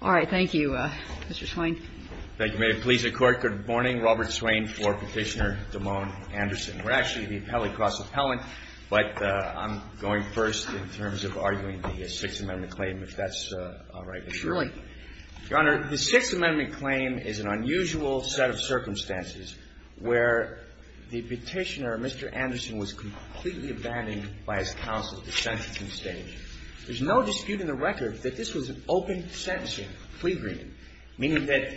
All right. Thank you, Mr. Swain. Thank you. May it please the Court, good morning. Robert Swain for Petitioner Damone Anderson. We're actually the appellate cross-appellant, but I'm going first in terms of arguing the Sixth Amendment claim, if that's all right. Surely. Your Honor, the Sixth Amendment claim is an unusual set of circumstances where the Petitioner, Mr. Anderson, was completely abandoned by his counsel at the sentencing stage. There's no dispute in the record that this was an open sentencing, free reading, meaning that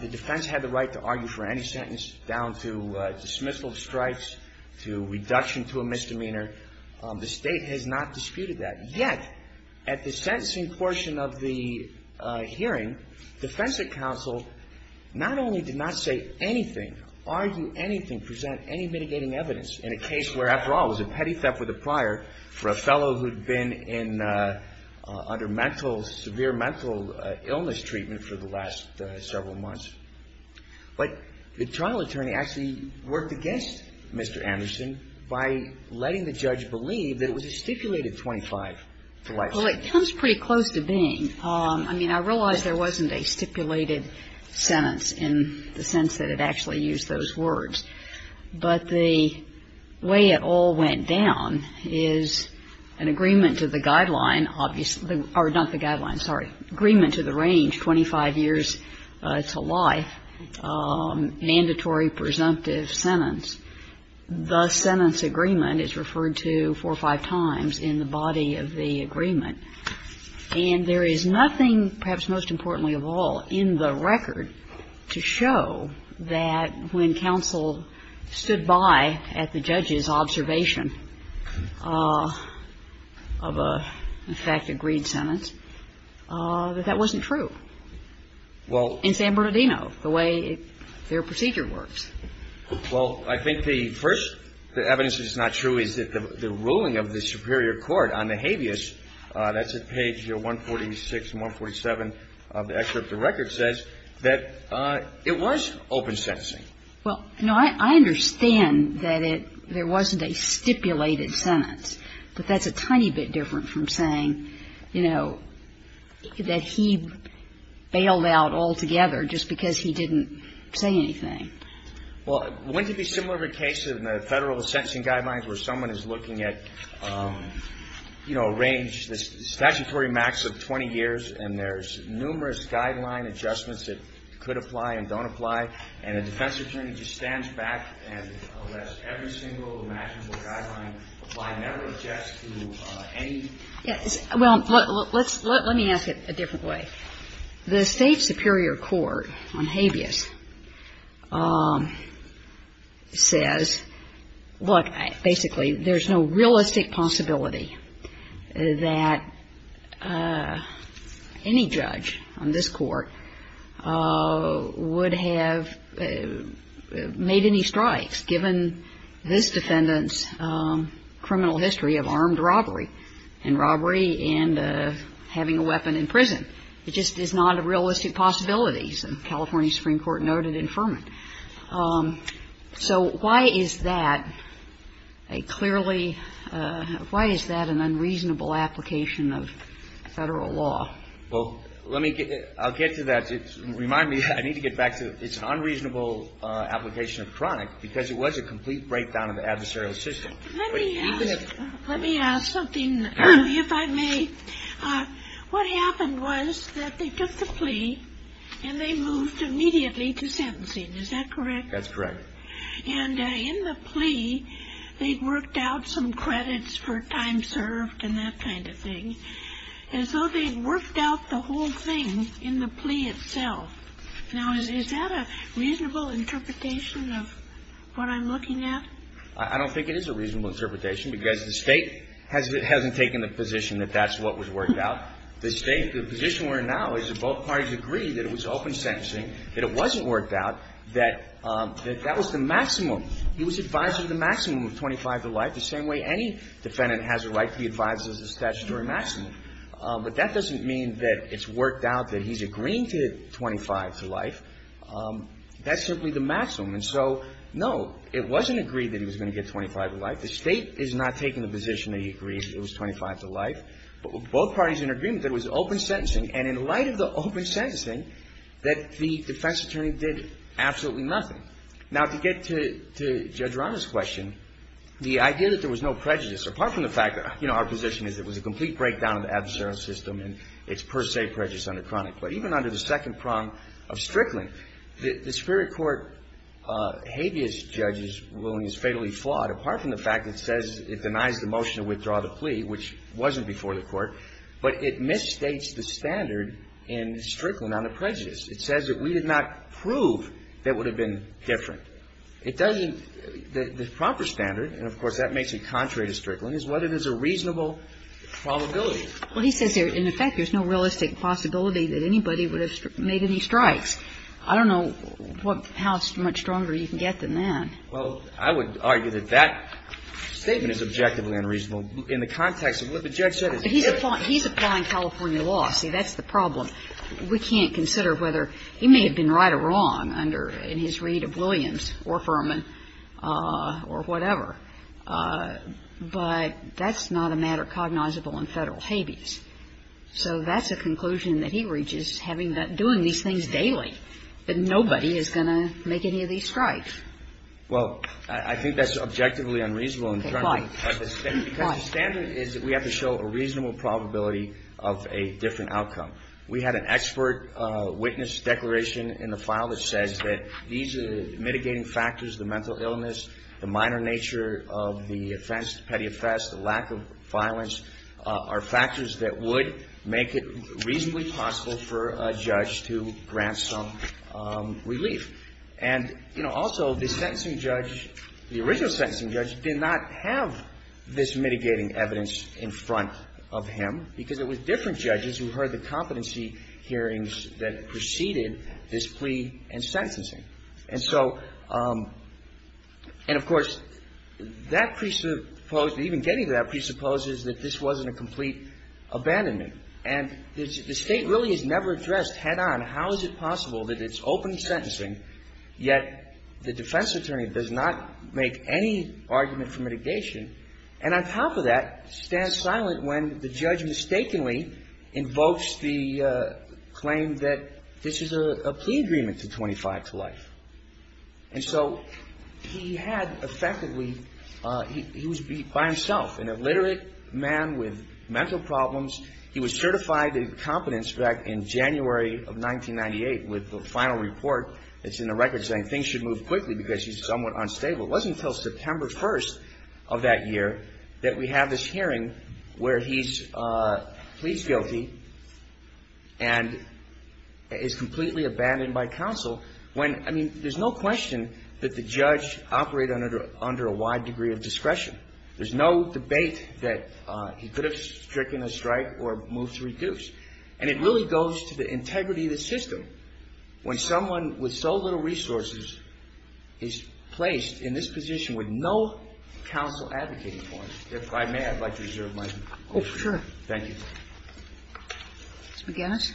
the defense had the right to argue for any sentence down to dismissal of stripes, to reduction to a misdemeanor. The State has not disputed that. Yet, at the sentencing portion of the hearing, defense counsel not only did not say anything, argue anything, present any mitigating evidence in a case where, after all, it was a petty step with a prior for a fellow who had been in under mental, severe mental illness treatment for the last several months, but the trial attorney actually worked against Mr. Anderson by letting the judge believe that it was a stipulated 25 to light sentence. Well, it comes pretty close to being. I mean, I realize there wasn't a stipulated sentence in the sense that it actually used those words. But the way it all went down is an agreement to the guideline, obviously, or not the guideline, sorry, agreement to the range, 25 years to life, mandatory presumptive sentence. The sentence agreement is referred to four or five times in the body of the agreement. And there is nothing, perhaps most importantly of all, in the record to show that when counsel stood by at the judge's observation of a, in fact, agreed sentence, that that wasn't true in San Bernardino, the way their procedure works. Well, I think the first evidence that's not true is that the ruling of the superior court on the habeas, that's at page 146 and 147 of the excerpt of the record, says that it was open sentencing. Well, no, I understand that it, there wasn't a stipulated sentence. But that's a tiny bit different from saying, you know, that he bailed out altogether just because he didn't say anything. Well, wouldn't it be similar to the case in the Federal sentencing guidelines where someone is looking at, you know, a range, the statutory max of 20 years, and there's numerous guideline adjustments that could apply and don't apply, and a defense attorney just stands back and lets every single imaginable guideline apply, never adjust to any? Yes. Well, let's, let me ask it a different way. The state superior court on habeas says, look, basically, there's no realistic possibility that any judge on this court would have made any strikes, given this defendant's criminal history of armed robbery, and robbery and having a weapon in prison. It just is not a realistic possibility, as the California Supreme Court noted in Furman. So why is that a clearly, why is that an unreasonable application of Federal law? Well, let me get, I'll get to that. It's, remind me, I need to get back to, it's an unreasonable application of chronic because it was a complete breakdown of the adversarial system. Let me ask, let me ask something, if I may. What happened was that they took the plea, and they moved immediately to sentencing. Is that correct? That's correct. And in the plea, they'd worked out some credits for time served and that kind of thing, as though they'd worked out the whole thing in the plea itself. Now, is that a reasonable interpretation of what I'm looking at? I don't think it is a reasonable interpretation, because the State hasn't taken the position that that's what was worked out. The State, the position we're in now is that both parties agreed that it was open sentencing, that it wasn't worked out, that that was the maximum. He was advised of the maximum of 25 to life, the same way any defendant has a right to be advised of the statutory maximum. But that doesn't mean that it's worked out that he's agreeing to 25 to life. That's simply the maximum. And so, no, it wasn't agreed that he was going to get 25 to life. The State is not taking the position that he agrees it was 25 to life. Both parties are in agreement that it was open sentencing. And in light of the open sentencing, that the defense attorney did absolutely nothing. Now, to get to Judge Ronda's question, the idea that there was no prejudice, apart from the fact that, you know, our position is it was a complete breakdown of the adversarial system, and it's per se prejudice under chronic. But even under the second prong of Strickland, the Superior Court habeas judges ruling is fatally flawed, apart from the fact that it says it denies the motion to withdraw the plea, which wasn't before the Court, but it misstates the standard in Strickland on the prejudice. It says that we did not prove that it would have been different. It doesn't the proper standard, and of course, that makes it contrary to Strickland, is whether there's a reasonable probability. Well, he says in effect there's no realistic possibility that anybody would have made any strikes. I don't know how much stronger you can get than that. Well, I would argue that that statement is objectively unreasonable in the context of what the judge said. But he's applying California law. See, that's the problem. We can't consider whether he may have been right or wrong under his read of Williams or Furman or whatever. But that's not a matter cognizable in Federal habeas. So that's a conclusion that he reaches, having been doing these things daily, that nobody is going to make any of these strikes. Well, I think that's objectively unreasonable in terms of the standard, because the standard is that we have to show a reasonable probability of a different outcome. We had an expert witness declaration in the file that says that these mitigating factors, the mental illness, the minor nature of the offense, the petty offense, the lack of violence, are factors that would make it reasonably possible for a judge to grant some relief. And, you know, also the sentencing judge, the original sentencing judge, did not have this mitigating evidence in front of him, because it was different judges who heard the competency hearings that preceded this plea and sentencing. And so, and of course, that presupposed, even getting to that presupposes that this wasn't a complete abandonment. And the State really has never addressed head-on how is it possible that it's open sentencing, yet the defense attorney does not make any argument for mitigation, and on top of that, stands silent when the judge mistakenly invokes the claim that this is a plea agreement to 25 to life. And so he had effectively, he was by himself, an illiterate man with mental problems. He was certified in competence back in January of 1998 with the final report that's in the record saying things should move quickly because he's somewhat unstable. It wasn't until September 1st of that year that we have this hearing where he's guilty and is completely abandoned by counsel when, I mean, there's no question that the judge operated under a wide degree of discretion. There's no debate that he could have stricken a strike or moved to reduce. And it really goes to the integrity of the system when someone with so little resources is placed in this position with no counsel advocating for him. If I may, I'd like to reserve my time. Oh, sure. Thank you. Ms. McGinnis?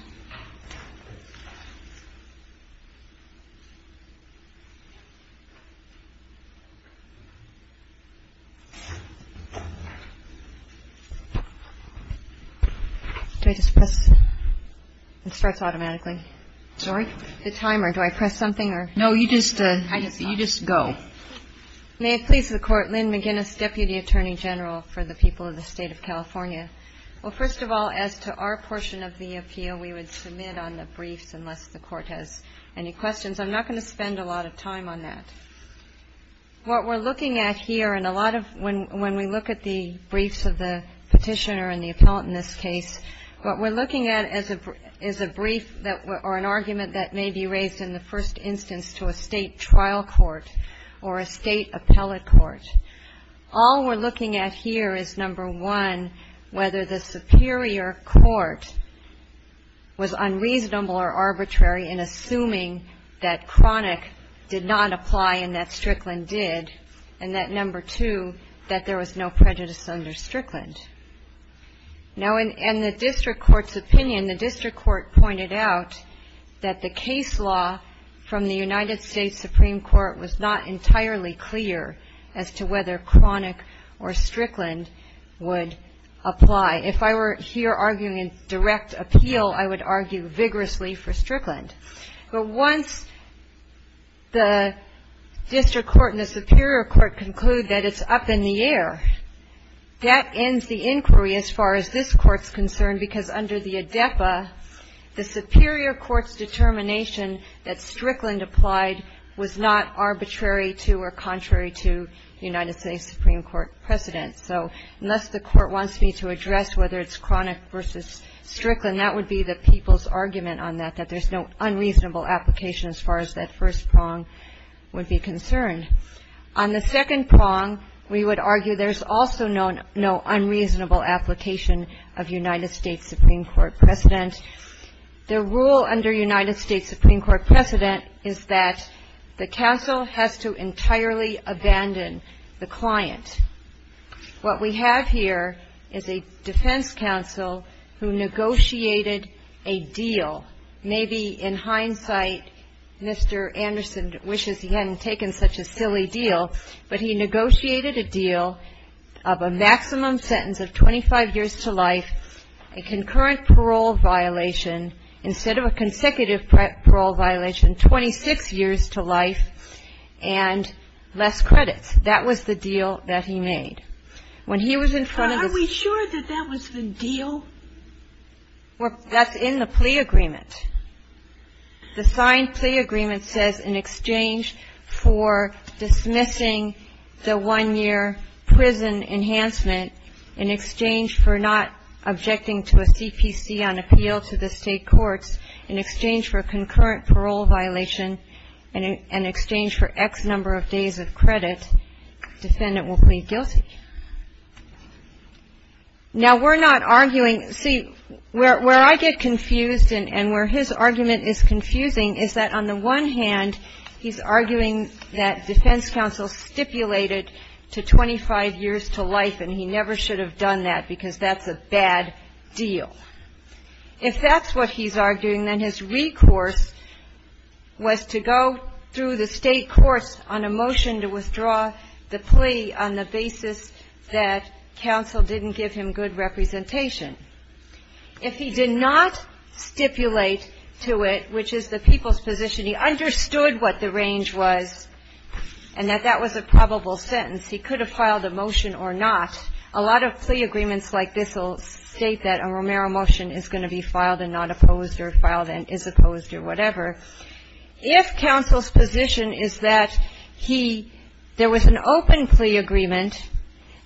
Do I just press? It starts automatically. Sorry? The timer. Do I press something or? No, you just go. May it please the Court. Lynn McGinnis, Deputy Attorney General for the people of the State of California. Well, first of all, as to our portion of the appeal, we would submit on the briefs unless the Court has any questions. I'm not going to spend a lot of time on that. What we're looking at here and a lot of when we look at the briefs of the petitioner and the appellant in this case, what we're looking at is a brief or an argument that may be raised in the first instance to a state trial court or a state appellate court. All we're looking at here is, number one, whether the superior court was unreasonable or arbitrary in assuming that chronic did not apply and that Strickland did, and that, number two, that there was no prejudice under Strickland. Now, in the district court's opinion, the district court pointed out that the case law from the United States Supreme Court was not entirely clear as to whether chronic or Strickland would apply. If I were here arguing a direct appeal, I would argue vigorously for Strickland. But once the district court and the superior court conclude that it's up in the air, that ends the inquiry as far as this Court's concerned because under the ADEPA, the superior court's determination that Strickland applied was not arbitrary to or contrary to the United States Supreme Court precedent. So unless the Court wants me to address whether it's chronic versus Strickland, that would be the people's argument on that, that there's no unreasonable application as far as that first prong would be concerned. On the second prong, we would argue there's also no unreasonable application of United States Supreme Court precedent. The rule under United States Supreme Court precedent is that the counsel has to entirely abandon the client. What we have here is a defense counsel who negotiated a deal. Maybe in hindsight, Mr. Anderson wishes he hadn't taken such a silly deal, but he negotiated a deal of a maximum sentence of 25 years to life, a concurrent parole violation instead of a consecutive parole violation, 26 years to life, and less credits. That was the deal that he made. When he was in front of the ---- Sotomayor, are we sure that that was the deal? Well, that's in the plea agreement. The signed plea agreement says in exchange for dismissing the one-year prison enhancement, in exchange for not objecting to a CPC on appeal to the State courts, in exchange for a concurrent parole violation and in exchange for X number of days of credit, defendant will plead guilty. Now, we're not arguing ---- See, where I get confused and where his argument is confusing is that on the one hand, he's arguing that defense counsel stipulated to 25 years to life, and he never should have done that because that's a bad deal. If that's what he's arguing, then his recourse was to go through the State courts on a motion to withdraw the plea on the basis that counsel didn't give him good representation. If he did not stipulate to it, which is the people's position, he understood what the range was and that that was a probable sentence. He could have filed a motion or not. A lot of plea agreements like this will state that a Romero motion is going to be filed and not opposed or filed and is opposed or whatever. If counsel's position is that he ---- there was an open plea agreement,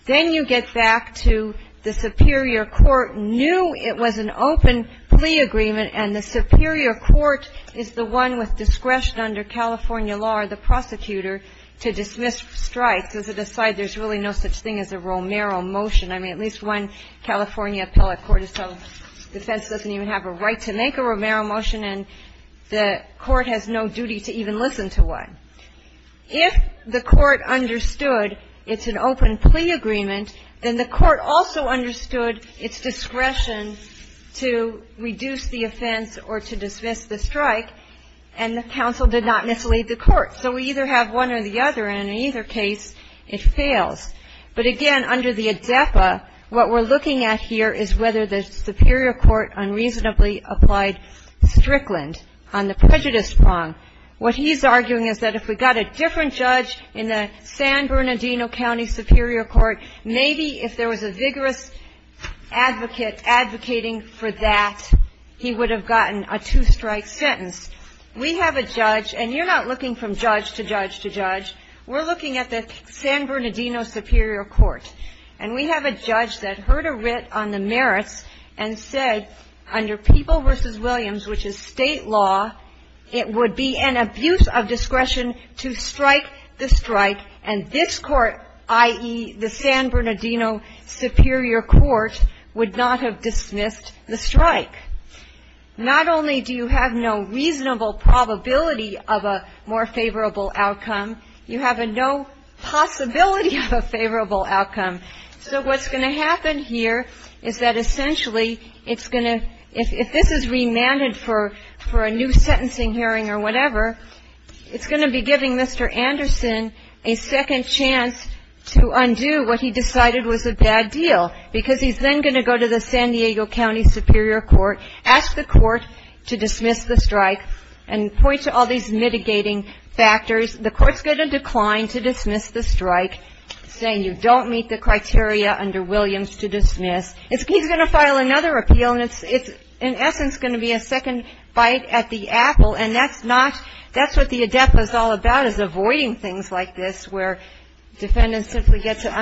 then you get back to the superior court knew it was an open plea agreement and the superior court is the one with discretion under California law or the prosecutor to dismiss strikes, as it aside, there's really no such thing as a Romero motion. I mean, at least one California appellate court has said defense doesn't even have a right to make a Romero motion, and the court has no duty to even listen to one. If the court understood it's an open plea agreement, then the court also understood its discretion to reduce the offense or to dismiss the strike, and the counsel did not mislead the court. So we either have one or the other, and in either case, it fails. But again, under the ADEPA, what we're looking at here is whether the superior court unreasonably applied Strickland on the prejudice prong. What he's arguing is that if we got a different judge in the San Bernardino County Superior Court, maybe if there was a vigorous advocate advocating for that, he would have gotten a two-strike sentence. We have a judge, and you're not looking from judge to judge to judge. We're looking at the San Bernardino Superior Court. And we have a judge that heard a writ on the merits and said under People v. Williams, which is State law, it would be an abuse of discretion to strike the strike, and this court, i.e., the San Bernardino Superior Court, would not have dismissed the strike. Not only do you have no reasonable probability of a more favorable outcome, you have a no possibility of a favorable outcome. So what's going to happen here is that essentially it's going to ‑‑ if this is remanded for a new sentencing hearing or whatever, it's going to be giving Mr. Anderson a second chance to undo what he decided was a bad deal, because he's then going to go to the San Diego County Superior Court, ask the court to dismiss the strike, and point to all these mitigating factors. The court's going to decline to dismiss the strike, saying you don't meet the criteria under Williams to dismiss. He's going to file another appeal, and it's in essence going to be a second bite at the apple. And that's not ‑‑ that's what the ADEPA is all about is avoiding things like this where defendants simply get to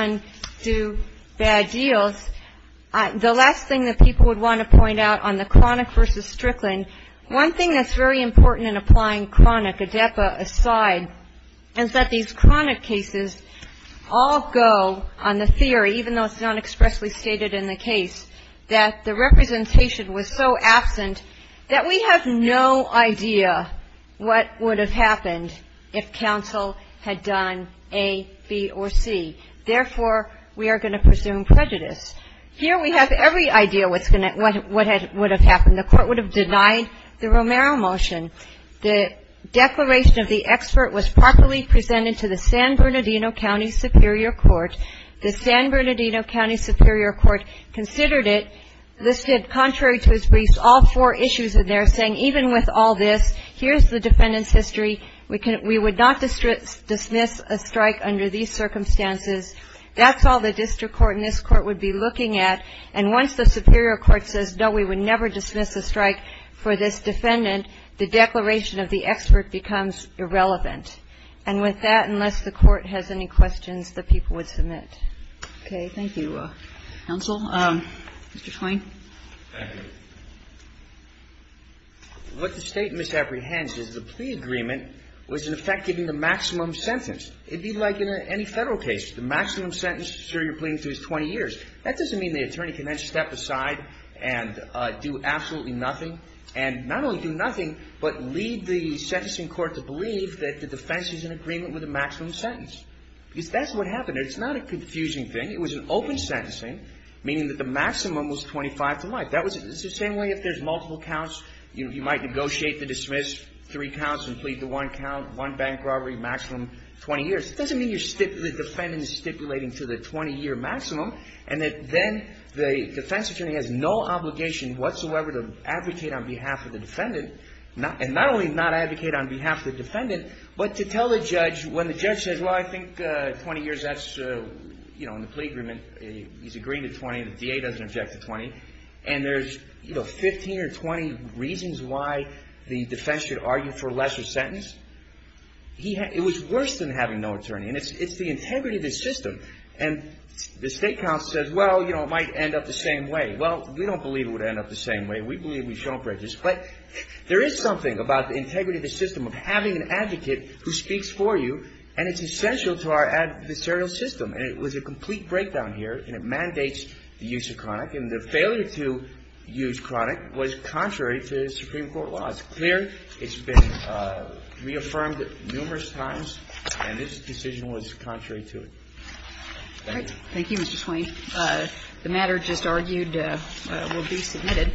undo bad deals. The last thing that people would want to point out on the chronic versus Strickland, one thing that's very important in applying chronic ADEPA aside is that these chronic cases all go on the theory, even though it's not expressly stated in the case, that the representation was so absent that we have no idea what would have happened if counsel had done A, B, or C. Therefore, we are going to presume prejudice. Here we have every idea what would have happened. The court would have denied the Romero motion. The declaration of the expert was properly presented to the San Bernardino County Superior Court. The San Bernardino County Superior Court considered it, listed contrary to its briefs, all four issues in there, saying even with all this, here's the defendant's history, we would not dismiss a strike under these circumstances. That's all the district court and this court would be looking at. And once the superior court says, no, we would never dismiss a strike for this defendant, the declaration of the expert becomes irrelevant. And with that, unless the court has any questions, the people would submit. Kagan. Thank you, counsel. Mr. Twain. Thank you. What the State misapprehends is the plea agreement was, in effect, giving the maximum sentence. It would be like in any Federal case. The maximum sentence a surrogate pleading for is 20 years. That doesn't mean the attorney can then step aside and do absolutely nothing and not only do nothing, but lead the sentencing court to believe that the defense is in agreement with the maximum sentence. Because that's what happened. It's not a confusing thing. It was an open sentencing, meaning that the maximum was 25 to life. It's the same way if there's multiple counts, you might negotiate the dismiss, three counts and plead the one count, one bank robbery, maximum 20 years. It doesn't mean the defendant is stipulating to the 20-year maximum and that then the defense attorney has no obligation whatsoever to advocate on behalf of the defendant and not only not advocate on behalf of the defendant, but to tell the judge when the judge says, Well, I think 20 years, that's, you know, in the plea agreement, he's agreeing to 20. The DA doesn't object to 20. And there's, you know, 15 or 20 reasons why the defense should argue for a lesser sentence. It was worse than having no attorney. And it's the integrity of the system. And the state counsel says, well, you know, it might end up the same way. Well, we don't believe it would end up the same way. We believe we've shown prejudice. But there is something about the integrity of the system of having an advocate who speaks for you. And it's essential to our adversarial system. And it was a complete breakdown here. And it mandates the use of chronic. And the failure to use chronic was contrary to Supreme Court law. It's clear. It's been reaffirmed numerous times. And this decision was contrary to it. Thank you. Thank you, Mr. Swain. The matter just argued will be submitted.